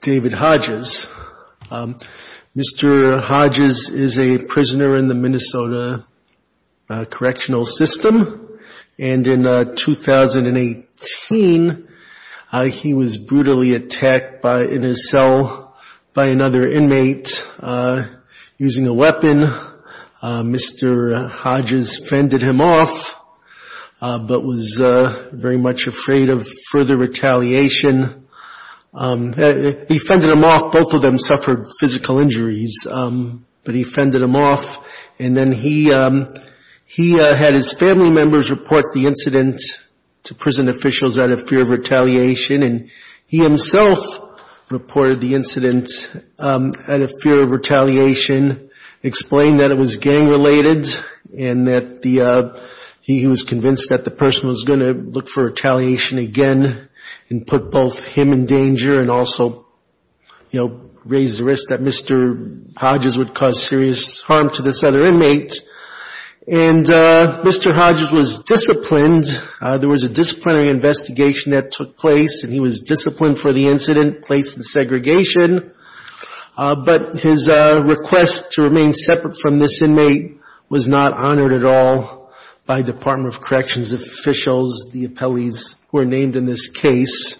David Hodges. Mr. Hodges is a prisoner in the Minnesota Correctional System and in 2018 he was brutally attacked by in his cell by another inmate using a weapon. Mr. Hodges fended him off but was very much afraid of further retaliation. He fended him off, both of them suffered physical injuries, but he fended him off and then he had his family members report the incident to prison officials out of fear of retaliation and he himself reported the incident out of fear of retaliation, explained that it was gang related and that he was convinced that the person was going to look for retaliation again and put both him in danger and also raised the risk that Mr. Hodges would cause serious harm to this other inmate and Mr. Hodges was disciplined. There was a disciplinary investigation that took place and he was disciplined for the incident, placed in segregation, but his request to remain separate from this inmate was not granted. The inmate was released and the other inmates were named in this case.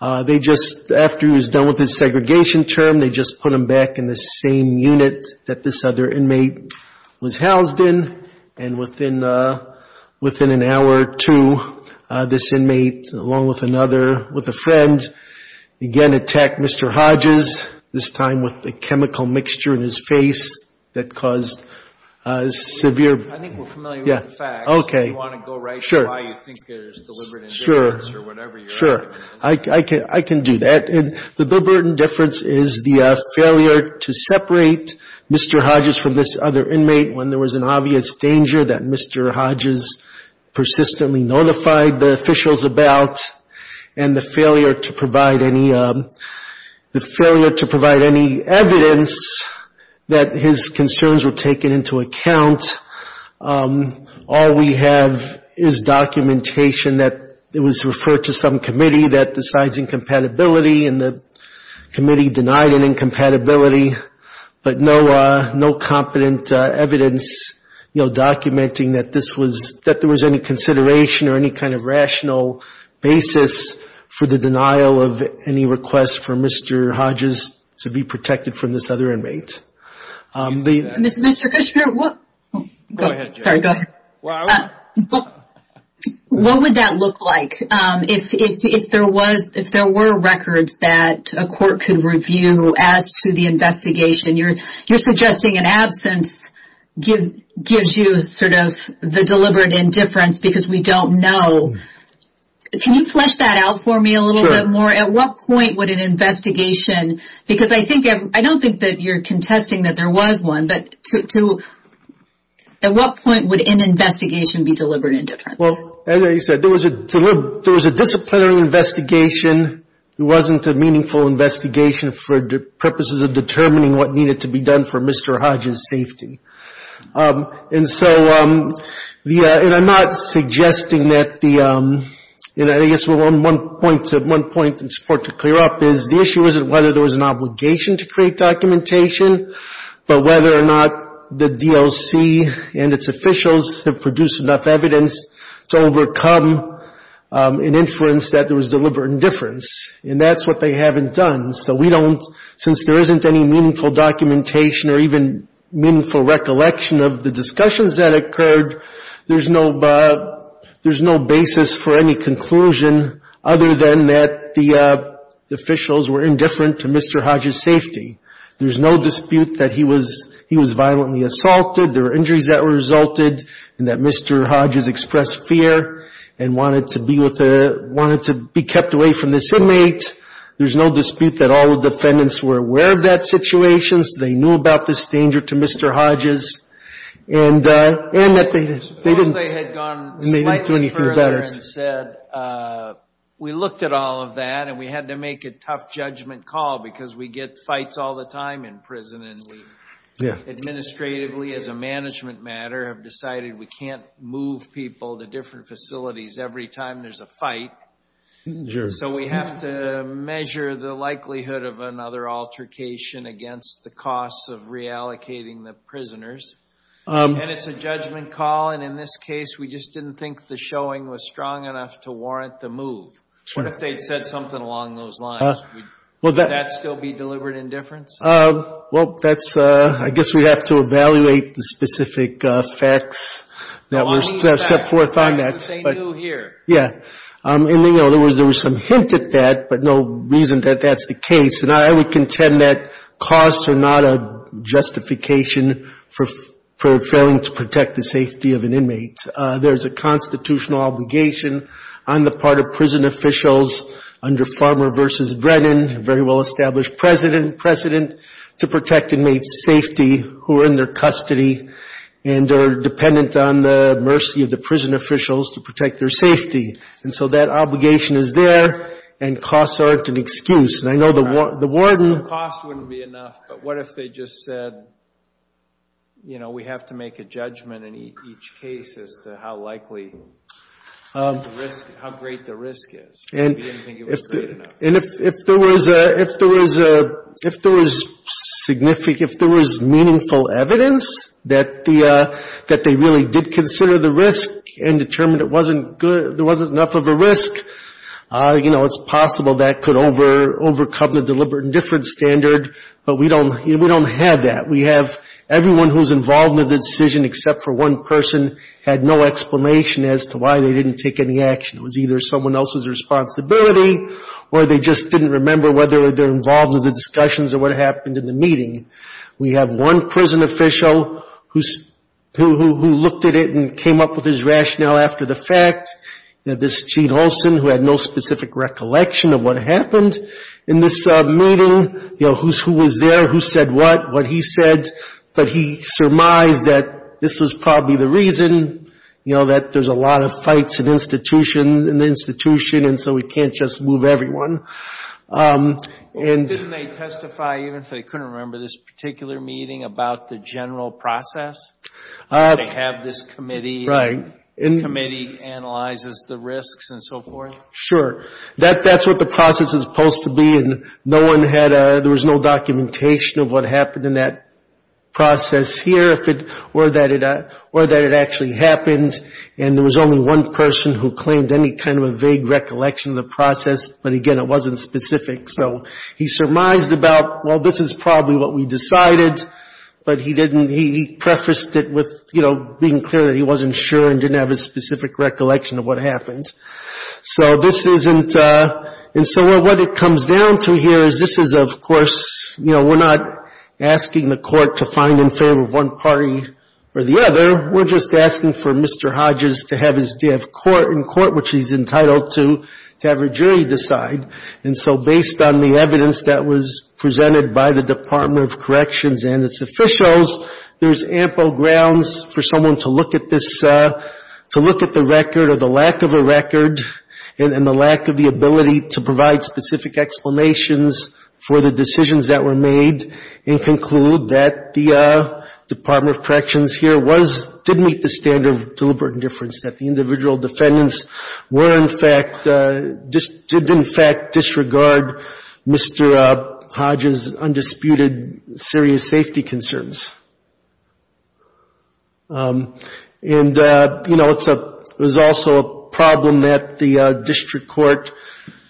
After he was done with his segregation term, they just put him back in the same unit that this other inmate was housed in and within an hour or two, this inmate along with another, with a friend, again attacked Mr. Hodges, this time with a chemical mixture in his face that caused severe... I think we're familiar with the facts. Do you want to go right to why you think there's deliberate indifference or whatever you're... Sure. I can do that. The deliberate indifference is the failure to separate Mr. Hodges from this other inmate when there was an obvious danger that Mr. Hodges persistently notified the officials about and the failure to provide any evidence that his concerns were taken into account. All we have is documentation that it was referred to some committee that decides incompatibility and the committee denied an incompatibility, but no competent evidence documenting that this was, that there was any consideration or any kind of rational basis for the denial of any request for Mr. Hodges to be protected from this other inmate. Mr. Kushner, what would that look like if there were records that a court could review as to the investigation? You're suggesting an absence gives you sort of the deliberate indifference because we don't know. Can you flesh that out for me a little bit more? At what point would an investigation... Because I don't think that you're contesting that there was one, but at what point would an investigation be deliberate indifference? Well, as I said, there was a disciplinary investigation. It wasn't a meaningful investigation for purposes of determining what needed to be done for Mr. Hodges' safety. And so I'm not suggesting that the... And I guess one point in support to clear up is the issue isn't whether there was an obligation to create documentation, but whether or not the DLC and its officials have produced enough evidence to overcome an inference that there was deliberate indifference. And that's what they haven't done. So we don't, since there isn't any meaningful documentation or even meaningful recollection of the discussions that occurred, there's no basis for any conclusion other than that the officials were indifferent to Mr. Hodges' safety. There's no dispute that he was violently assaulted, there were injuries that resulted, and that Mr. Hodges expressed fear and wanted to be kept away from this inmate. There's no dispute that all the defendants were aware of that situation, they knew about this danger to Mr. Hodges, and that they didn't do anything better. Suppose they had gone slightly further and said, we looked at all of that and we had to make a tough judgment call because we get fights all the time in prison, and we administratively, as a management matter, have decided we can't move people to different facilities every time there's a fight. So we have to measure the likelihood of another altercation against the costs of reallocating the prisoners. And it's a judgment call, and in this case, we just didn't think the showing was strong enough to warrant the move. What if they had said something along those lines? Would that still be deliberate indifference? Well, that's, I guess we'd have to evaluate the specific facts that were set forth on that. Yeah. And, you know, there was some hint at that, but no reason that that's the case. And I would contend that costs are not a justification for failing to protect the safety of an inmate. There's a constitutional obligation on the part of prison officials under Farmer v. Brennan, a very well-established precedent, to protect inmates' safety who are in their custody and are dependent on the mercy of the prison officials to protect their safety. And so that obligation is there, and costs aren't an excuse. And I know the warden... No, costs wouldn't be enough, but what if they just said, you know, we have to make a judgment in each case as to how likely, how great the risk is? Maybe they didn't think it was great enough. And if there was meaningful evidence that they really did consider the risk and determined there wasn't enough of a risk, you know, it's possible that could overcome the deliberate indifference standard, but we don't have that. We have everyone who's involved in the decision except for one person had no explanation as to why they didn't take any action. It was either someone else's responsibility, or they just didn't remember whether they were involved in the discussions or what happened in the meeting. We have one prison official who looked at it and came up with his rationale after the fact. This is Gene Olson, who had no specific recollection of what happened in this meeting. You know, who was there, who said what, what he said, but he surmised that this was probably the reason, you know, that there's a lot of fights in the institution, and so we can't just move everyone. Didn't they testify, even if they couldn't remember, this particular meeting about the general process? They have this committee, and the committee analyzes the risks and so forth? Sure. That's what the process is supposed to be, and no one had a, there was no documentation of what happened in that process here, or that it actually happened, and there was only one person who claimed any kind of a vague recollection of the process, but again, it wasn't specific. So he surmised about, well, this is probably what we discussed it with, you know, being clear that he wasn't sure and didn't have a specific recollection of what happened. So this isn't, and so what it comes down to here is this is, of course, you know, we're not asking the court to find in favor of one party or the other. We're just asking for Mr. Hodges to have his, to have court in court, which he's entitled to, to have a jury decide, and so based on the evidence that was presented by the Department of Corrections and its officials, there's ample grounds for someone to look at this, to look at the record or the lack of a record and the lack of the ability to provide specific explanations for the decisions that were made and conclude that the Department of Corrections here was, did meet the standard of deliberate indifference, that the individual defendants were in fact, did in fact disregard Mr. Hodges' undisputed serious safety concerns. And, you know, it's a, there's also a problem that the district court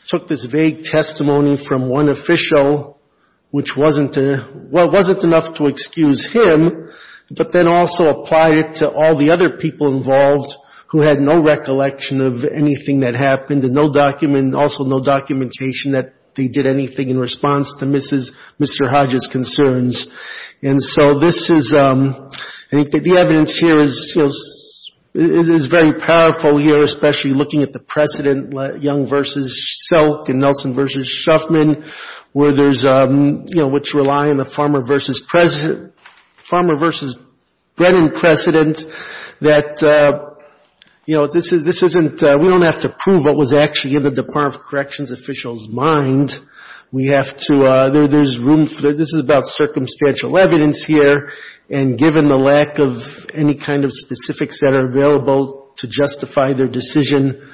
took this vague testimony from one official, which wasn't, well, it wasn't enough to excuse him, but then also apply it to all the other people involved who had no recollection of anything that happened and no document, also no documentation that they provided anything in response to Mrs., Mr. Hodges' concerns. And so this is, I think that the evidence here is, you know, is very powerful here, especially looking at the precedent, Young v. Silk and Nelson v. Shuffman, where there's, you know, which rely on the Farmer v. President, Farmer v. Brennan precedent, that, you know, this isn't, we don't have to prove what was actually in the Department of Corrections officials' mind, we have to, there's room for, this is about circumstantial evidence here, and given the lack of any kind of specifics that are available to justify their decision,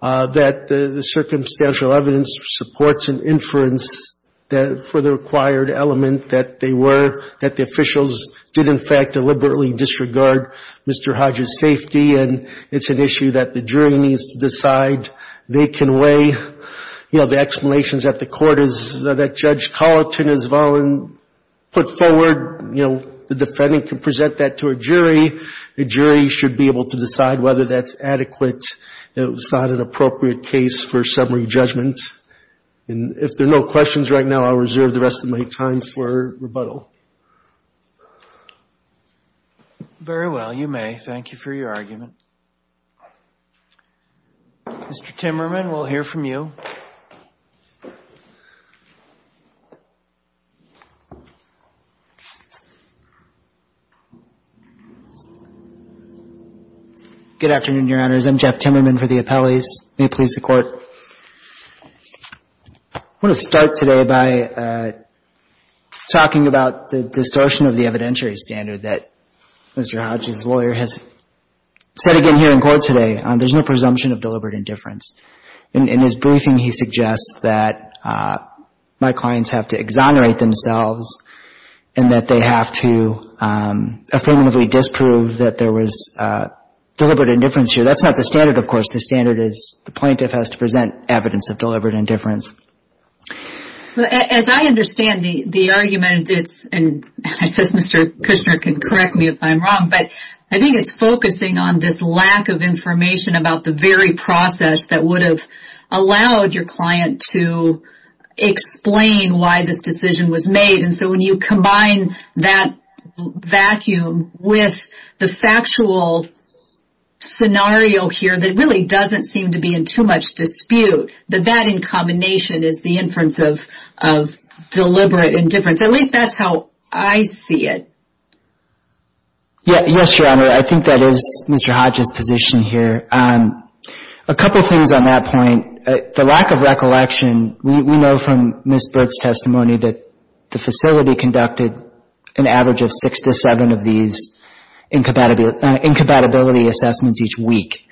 that the circumstantial evidence supports an inference for the required element that they were, that the officials did in fact deliberately disregard Mr. Hodges' safety, and it's an issue that the jury needs to decide. They can weigh, you know, the explanations that the court is, that Judge Colleton has put forward, you know, the defendant can present that to a jury, the jury should be able to decide whether that's adequate, it was not an appropriate case for summary judgment. And if there are no questions right now, I'll reserve the rest of my time for rebuttal. Very well. You may. Thank you for your argument. Mr. Timmerman, we'll hear from you. Good afternoon, Your Honors. I'm Jeff Timmerman for the Appellees. May it please the Court. I want to start today by talking about the distortion of the evidentiary standard that Mr. Hodges' lawyer has said again here in court today. There's no presumption of deliberate indifference. In his briefing, he suggests that my clients have to exonerate themselves and that they have to affirmatively disprove that there was deliberate indifference here. That's not the standard, of course. The standard is the plaintiff has to present evidence of deliberate indifference. As I understand the argument, and I suppose Mr. Kushner can correct me if I'm wrong, but I think it's focusing on this lack of information about the very process that would have allowed your client to explain why this decision was made. And so when you combine that vacuum with the factual scenario here that really doesn't seem to be in too much dispute, that that in combination is the inference of deliberate indifference. At least that's how I see it. Yes, Your Honor. I think that is Mr. Hodges' position here. A couple things on that point. The lack of recollection, we know from Ms. Burke's testimony that the facility conducted an average of six to seven of these incompatibility assessments each week.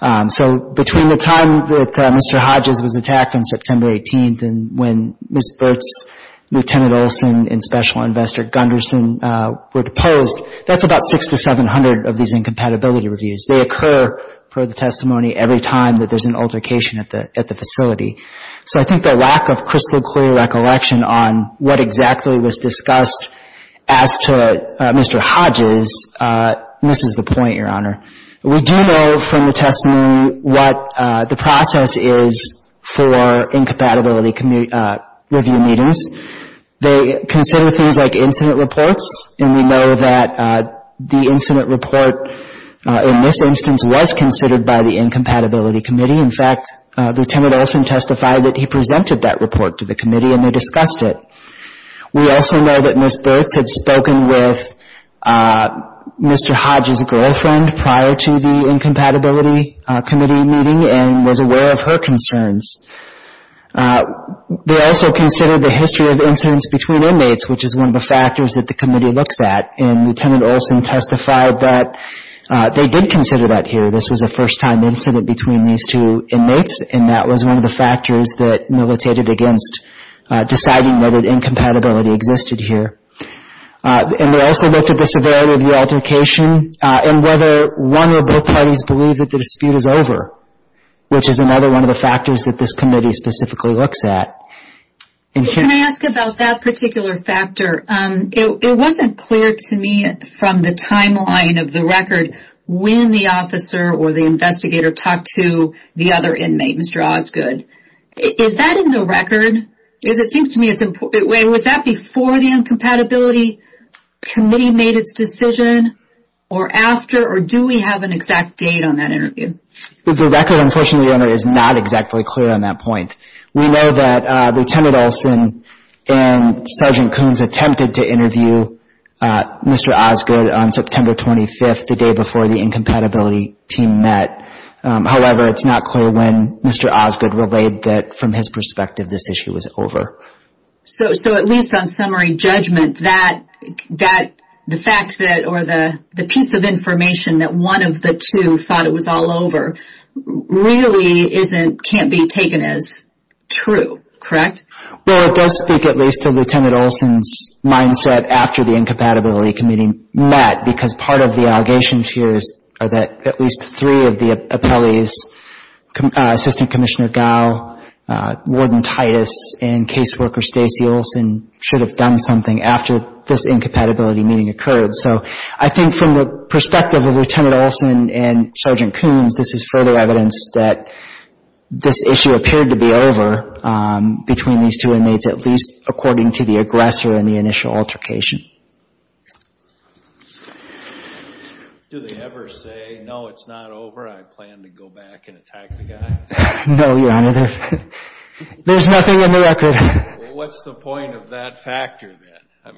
So between the time that Mr. Hodges was attacked on September 18th and when Ms. Burke's Lieutenant Olson and Special Investor Gunderson were deposed, that's about six to seven hundred of these incompatibility reviews. They occur per the testimony every time that there's an altercation at the facility. So I think the lack of crystal clear recollection on what exactly was discussed as to Mr. Hodges misses the point, Your Honor. We do know from the testimony what the process is for incompatibility review meetings. They consider things like incident reports, and we know that the incident report in this instance was considered by the Incompatibility Committee. In fact, the Lieutenant Olson testified that he presented that report to the committee and they discussed it. We also know that Ms. Burke had spoken with Mr. Hodges' girlfriend prior to the incident, and Ms. Burke had spoken with Mr. Hodges' girlfriend prior to the Incompatibility Committee meeting and was aware of her concerns. They also considered the history of incidents between inmates, which is one of the factors that the committee looks at, and Lieutenant Olson testified that they did consider that here. This was a first-time incident between these two inmates, and that was one of the factors that militated against deciding whether the incompatibility existed here. And they also looked at the severity of the altercation and whether one or both parties believe that the dispute is over, which is another one of the factors that this committee specifically looks at. Can I ask about that particular factor? It wasn't clear to me from the timeline of the record when the officer or the investigator talked to the other inmate, Mr. Osgood. Is that in the record? Because it seems to me that it was before the Incompatibility Committee made its decision, or after, or do we have an exact date on that interview? The record, unfortunately, Your Honor, is not exactly clear on that point. We know that Lieutenant Olson and Sergeant Coons attempted to interview Mr. Osgood on September 25th, the day before the Incompatibility Team met. However, it's not clear when Mr. Osgood relayed that, from his perspective, this issue was over. So, at least on summary judgment, the piece of information that one of the two thought it was all over, really can't be taken as true, correct? Well, it does speak at least to Lieutenant Olson's mindset after the Incompatibility Committee met, because part of the allegations here is that at least three of the appellees, Assistant Commissioner Gow, Warden Titus, and Case Manager Worker Stacey Olson, should have done something after this Incompatibility Meeting occurred. So, I think from the perspective of Lieutenant Olson and Sergeant Coons, this is further evidence that this issue appeared to be over between these two inmates, at least according to the aggressor and the initial altercation. Do they ever say, no, it's not over, I plan to go back and attack the guy? No, Your Honor. There's nothing in the record. Well, what's the point of that factor, then?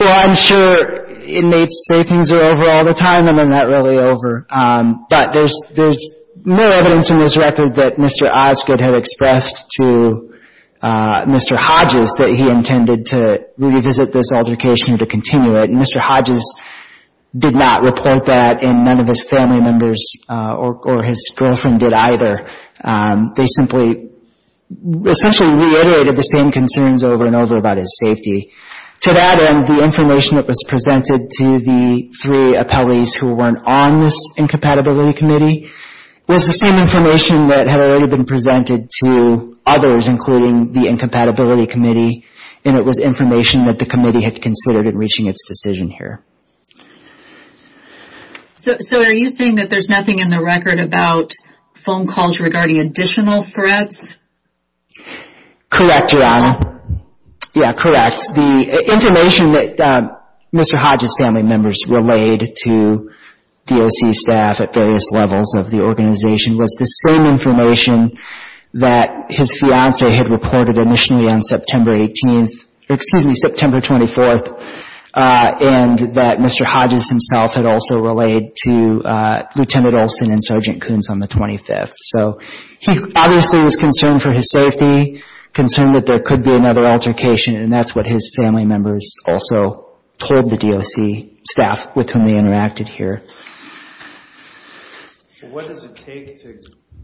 Well, I'm sure inmates say things are over all the time, and they're not really over, but there's more evidence in this record that Mr. Osgood had expressed to Mr. Hodges that he intended to revisit this altercation or to continue it. And Mr. Hodges did not report that, and none of his family members or his girlfriend did either. They simply essentially reiterated the same concerns over and over about his safety. To that end, the information that was presented to the three appellees who weren't on this Incompatibility Committee was the same information that had already been presented to others, including the Incompatibility Committee, and it was information that the committee had considered in reaching its decision here. So are you saying that there's nothing in the record about phone calls regarding additional threats? Correct, Your Honor. Yeah, correct. The information that Mr. Hodges' family members relayed to DOC staff at various levels of the organization was the same information that his fiancée had reported initially on September 18th, excuse me, September 24th, and that Mr. Hodges himself had also relayed to Lieutenant Olson and Sergeant Coons on the 25th. So he obviously was concerned for his safety, concerned that there could be another altercation, and that's what his family members also told the DOC staff with whom they interacted here. What does it take to,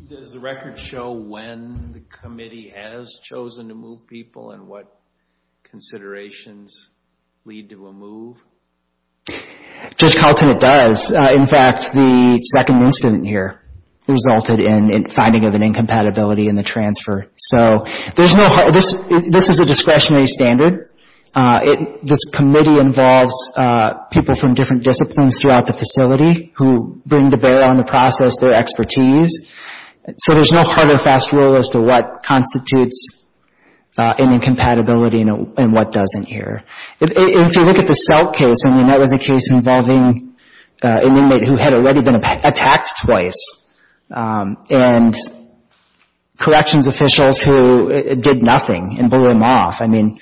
does the record show when the committee has chosen to move people and what considerations lead to a move? Judge Kalten it does. In fact, the second incident here resulted in finding of an incompatibility in the transfer. So there's no, this is a discretionary standard. This committee involves people from different disciplines throughout the facility who bring to bear on the process their expertise. So there's no hard or fast rule as to what constitutes an incompatibility and what doesn't here. If you look at the Selk case, I mean, that was a case involving an inmate who had already been attacked twice and corrections officials who did nothing and blew him off. I mean,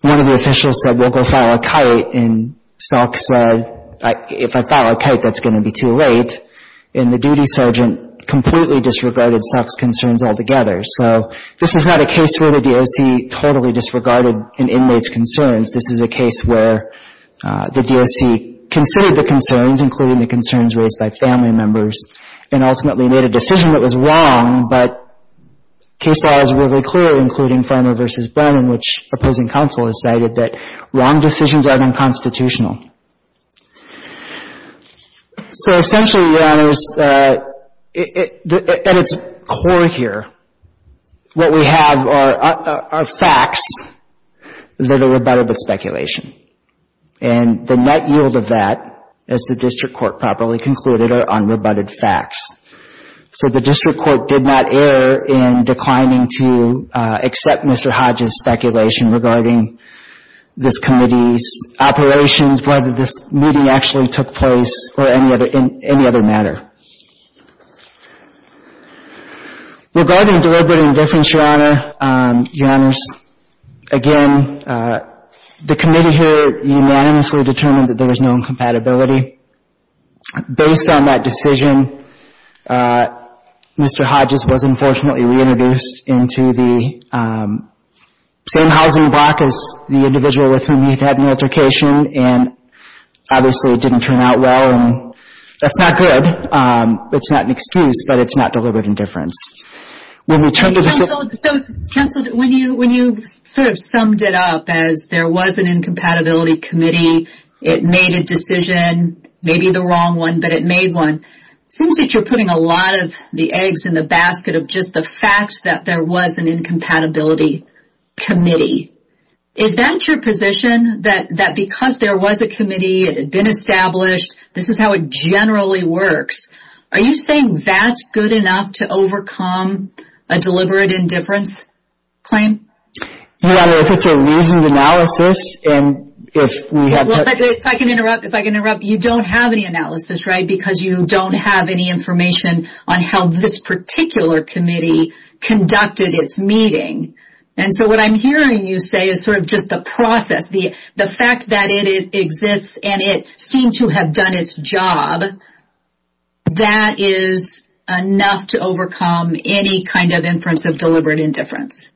one of the officials said, we'll go file a kite, and Selk said, if I file a kite, that's going to be too late, and the duty sergeant completely disregarded Selk's concerns altogether. So this is not a case where the DOC totally disregarded an inmate's concerns. This is a case where the DOC considered the concerns, including the concerns raised by family members, and ultimately made a decision that was wrong, but case files were very clear, including Farmer v. Brennan, which opposing counsel has cited that wrong decisions are unconstitutional. So essentially, Your Honors, at its core here, what we have are facts that are rebuttable speculation, and the net yield of that, as the district court properly concluded, are unrebutted facts. So the district court did not err in declining to accept Mr. Hodges' speculation regarding this committee's operations, whether this meeting actually took place, or any other matter. Regarding deliberate indifference, Your Honors, again, the committee here unanimously determined that there was no incompatibility. Based on that decision, Mr. Hodges was unfortunately reintroduced into the same housing block as the individual with whom he had an altercation, and obviously it didn't turn out well, and that's not good. It's not an excuse, but it's not deliberate indifference. When you sort of summed it up as there was an incompatibility committee, it made a decision, maybe the wrong one, but it made one, it seems that you're putting a lot of the eggs in the basket of just the fact that there was an incompatibility committee. Is that your position, that because there was a committee, it had been established, this is how it generally works? Are you saying that's good enough to overcome a deliberate indifference claim? Your Honor, if it's a reasoned analysis, and if we have... If I can interrupt, you don't have any analysis, right, because you don't have any information on how this particular committee conducted its meeting. And so what I'm hearing you say is sort of just the process, the fact that it exists and it seemed to have done its job, that is enough to overcome any kind of inference of deliberate indifference.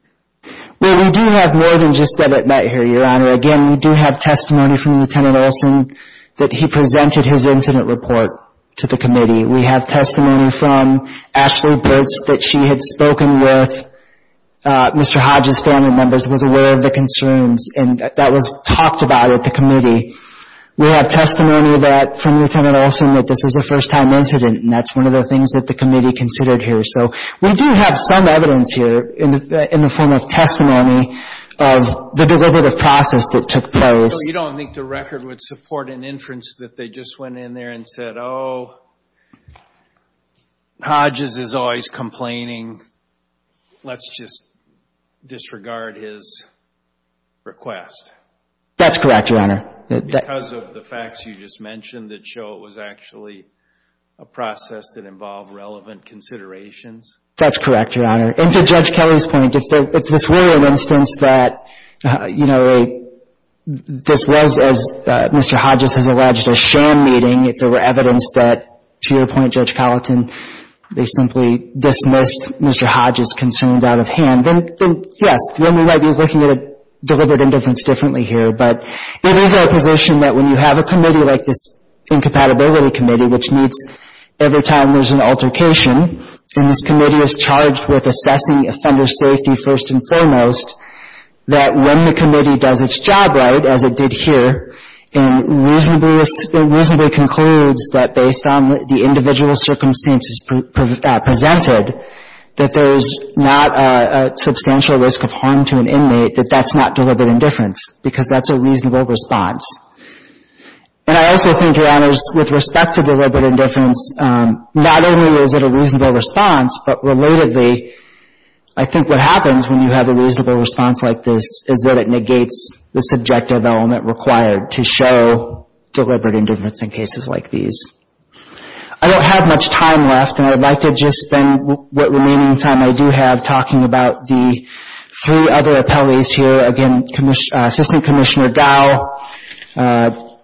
Well, we do have more than just that here, Your Honor. Again, we do have testimony from Lieutenant Olson that he presented his incident report to the committee. We have testimony from Ashley Burtz that she had spoken with Mr. Hodges' family members, was aware of the concerns, and that was talked about at the committee. We have testimony from Lieutenant Olson that this was a first-time incident, and that's one of the things that the committee considered here. So we do have some evidence here in the form of testimony of the deliberative process that took place. So you don't think the record would support an inference that they just went in there and said, Hodges is always complaining, let's just disregard his request? That's correct, Your Honor. Because of the facts you just mentioned that show it was actually a process that involved relevant considerations? That's correct, Your Honor. And to Judge Kelly's point, if this were an instance that, you know, this was, as Mr. Hodges has alleged, a sham meeting, and at that point, Judge Colleton, they simply dismissed Mr. Hodges' concerns out of hand, then, yes, then we might be looking at a deliberate indifference differently here. But it is our position that when you have a committee like this Incompatibility Committee, which meets every time there's an altercation, and this committee is charged with assessing offenders' safety first and foremost, that when the committee does its job right, as it did here, and reasonably concludes that based on the individual circumstances presented, that there's not a substantial risk of harm to an inmate, that that's not deliberate indifference, because that's a reasonable response. And I also think, Your Honors, with respect to deliberate indifference, not only is it a reasonable response, but, relatively, I think what happens when you have a reasonable response like this is that it negates the subjective element required to show deliberate indifference in cases like these. I don't have much time left, and I'd like to just spend what remaining time I do have talking about the three other appellees here, again, Assistant Commissioner Dow,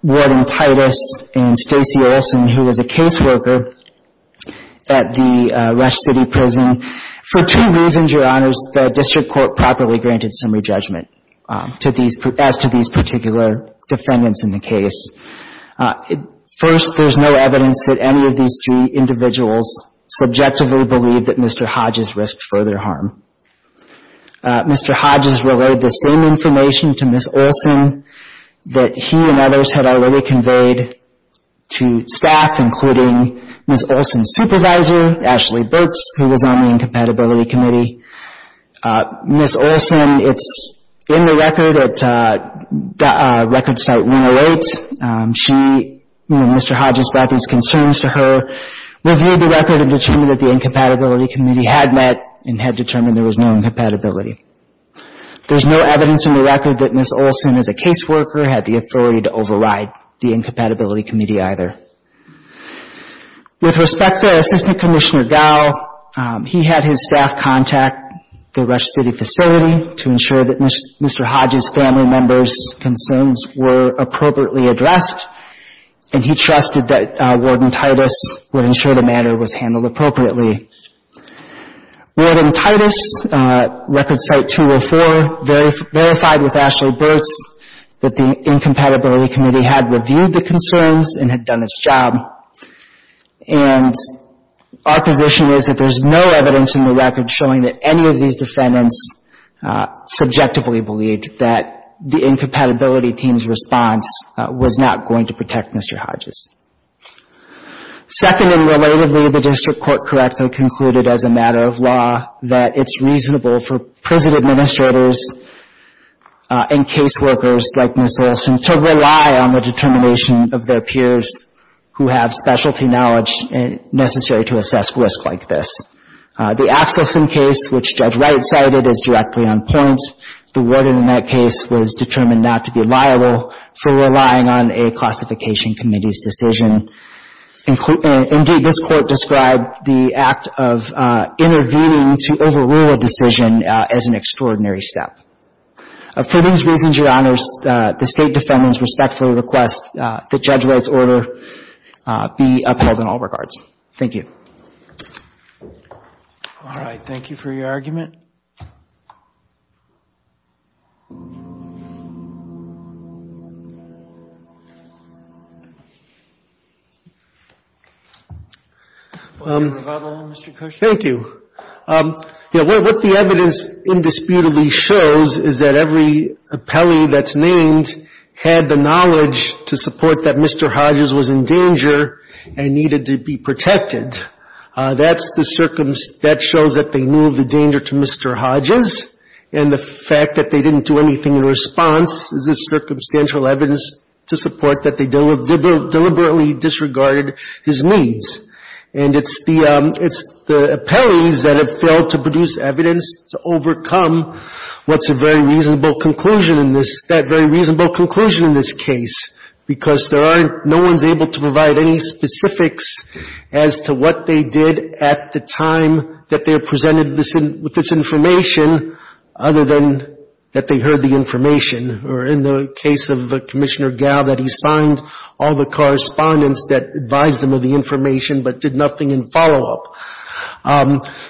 Warden Titus, and Stacey Olson, who was a caseworker at the Rush City Prison. For two reasons, Your Honors, the District Court properly granted some re-judgment as to these particular defendants in the case. First, there's no evidence that any of these three individuals subjectively believe that Mr. Hodges risked further harm. Mr. Hodges relayed the same information to Ms. Olson that he and others had already conveyed to staff, including Ms. Olson's supervisor, Ashley Burks, who was on the Incompatibility Committee. Ms. Olson, it's in the record at Record Cite 108, she, you know, Mr. Hodges brought these concerns to her, reviewed the record and determined that the Incompatibility Committee had met and had determined there was no incompatibility. There's no evidence in the record that Ms. Olson, as a caseworker, had the authority to override the Incompatibility Committee either. With respect to Assistant Commissioner Dow, he had his staff contact the Rush City facility to ensure that Mr. Hodges' family members' concerns were appropriately addressed, and he trusted that Warden Titus would ensure the matter was handled appropriately. Warden Titus, Record Cite 204, verified with Ashley Burks that the Incompatibility Committee had reviewed the concerns and had done its job, and our position is that there's no evidence in the record showing that any of these defendants subjectively believed that the Incompatibility Team's response was not going to protect Mr. Hodges. Second, and relatedly, the District Court correctly concluded, as a matter of law, that it's reasonable for prison administrators and caseworkers, like Ms. Olson, to rely on the determination of their peers who have specialty knowledge necessary to assess risk like this. The Axelson case, which Judge Wright cited, is directly on point. The warden in that case was determined not to be liable for relying on a classification committee's decision. Indeed, this Court described the act of intervening to overrule a decision as an extraordinary step. For these reasons, Your Honors, the State Defendants respectfully request that Judge Wright's order be upheld in all regards. Thank you. Thank you. Thank you for your argument. Thank you. Yeah, what the evidence indisputably shows is that every appellee that's named had the knowledge to support that Mr. Hodges was in danger and needed to be protected. That's the circumstance that shows that they knew of the danger to Mr. Hodges, and the fact that they didn't do anything in response is the circumstantial evidence to support that they deliberately disregarded his needs. And it's the appellees that have failed to produce evidence to overcome what's a very reasonable conclusion in this, that very reasonable conclusion in this case, because there aren't no one's able to provide any specifics as to what they did at the time that they were presented with this information, other than that they heard the information, or in the case of Commissioner Gow, that he signed all the correspondence that advised them of the information, but did nothing in follow-up.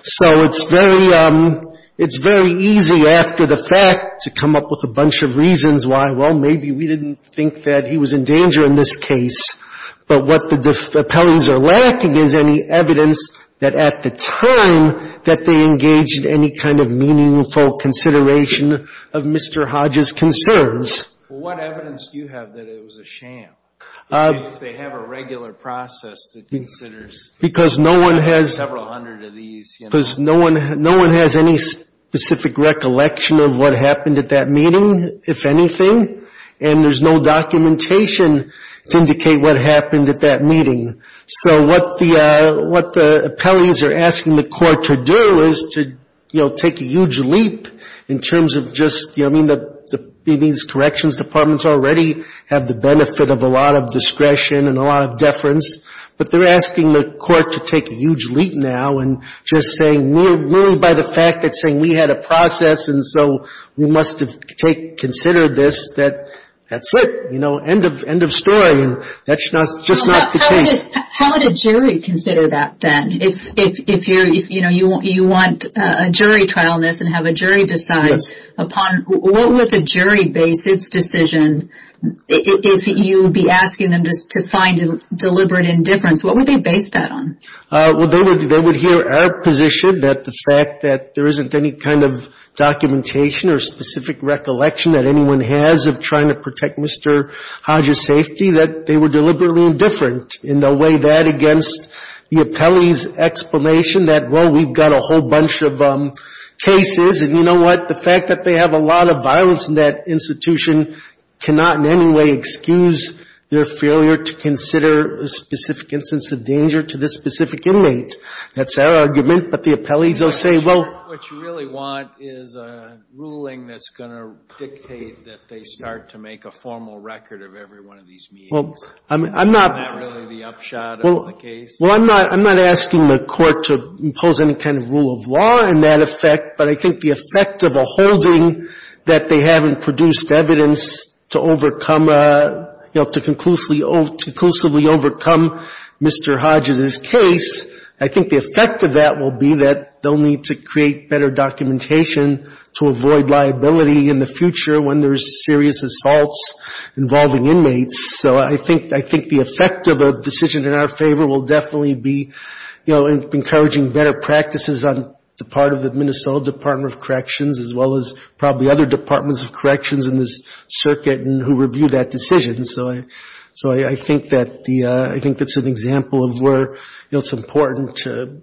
So it's very easy after the fact to come up with a bunch of reasons why, well, maybe we didn't think that he was in danger. Maybe he was in danger in this case, but what the appellees are lacking is any evidence that at the time that they engaged any kind of meaningful consideration of Mr. Hodges' concerns. Well, what evidence do you have that it was a sham, if they have a regular process that considers several hundred of these? Because no one has any specific recollection of what happened at that meeting, if anything, and there's no documentation. So what the appellees are asking the court to do is to, you know, take a huge leap in terms of just, you know, I mean, these corrections departments already have the benefit of a lot of discretion and a lot of deference, but they're asking the court to take a huge leap now and just saying, merely by the fact that saying we had a process and so we must have considered this, that that's it, you know, end of story. And that's just not the case. How would a jury consider that, then, if you're, you know, you want a jury trial in this and have a jury decide upon, what would the jury base its decision, if you would be asking them to find deliberate indifference, what would they base that on? Well, they would hear our position that the fact that there isn't any kind of documentation or specific recollection that anyone has of trying to protect Mr. Hodges' concerns. And they would hear our position on safety that they were deliberately indifferent in the way that against the appellee's explanation that, well, we've got a whole bunch of cases, and you know what, the fact that they have a lot of violence in that institution cannot in any way excuse their failure to consider a specific instance of danger to this specific inmate. That's our argument, but the appellees will say, well. Well, I'm not asking the Court to impose any kind of rule of law in that effect, but I think the effect of a holding that they haven't produced evidence to overcome, you know, to conclusively overcome Mr. Hodges' case, I think the effect of that will be that they'll need to create a formal record of every one of these meetings. And they'll need to create better documentation to avoid liability in the future when there's serious assaults involving inmates. So I think the effect of a decision in our favor will definitely be, you know, encouraging better practices on the part of the Minnesota Department of Corrections, as well as probably other departments of corrections in this circuit and who review that decision. So I think that's an example of where it's important to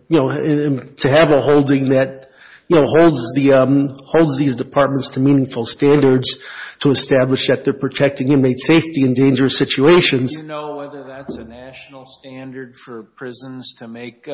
have a holding that, you know, has a lot of evidence to support that decision. You know, holds these departments to meaningful standards to establish that they're protecting inmate safety in dangerous situations. Do you know whether that's a national standard for prisons to make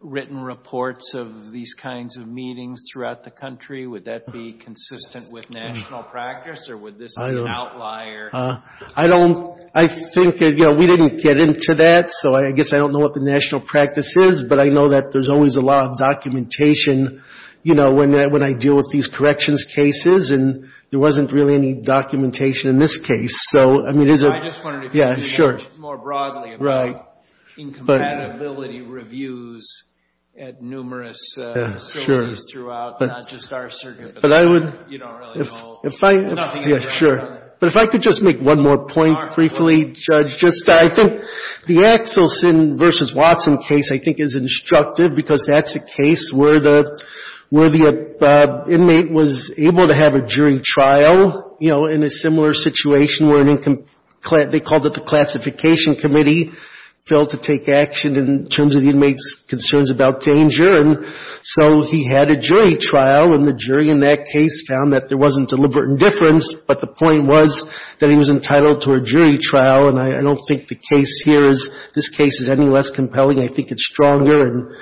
written reports of these kinds of meetings throughout the country? Would that be consistent with national practice, or would this be an outlier? I don't, I think, you know, we didn't get into that, so I guess I don't know what the national practice is, but I know that there's always a lot of documentation out there. You know, when I deal with these corrections cases, and there wasn't really any documentation in this case, so, I mean, there's a... I just wondered if you could answer more broadly about incompatibility reviews at numerous facilities throughout, not just our circuit, but you don't really know nothing about that. But if I could just make one more point briefly, Judge, just, I think the Axelson v. Watson case, I think, is instructive, because that's a case where the, you know, where the inmate was able to have a jury trial, you know, in a similar situation where an, they called it the classification committee, failed to take action in terms of the inmate's concerns about danger, and so he had a jury trial, and the jury in that case found that there wasn't deliberate indifference, but the point was that he was entitled to a jury trial, and I don't think the case here is, this case is any less compelling. I think it's stronger, and,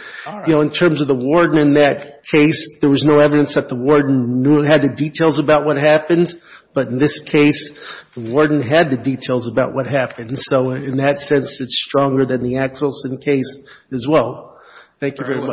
you know, in terms of the warden in that case, there was no evidence that the warden knew, had the details about what happened, but in this case, the warden had the details about what happened, so in that sense, it's stronger than the Axelson case as well. Thank you very much.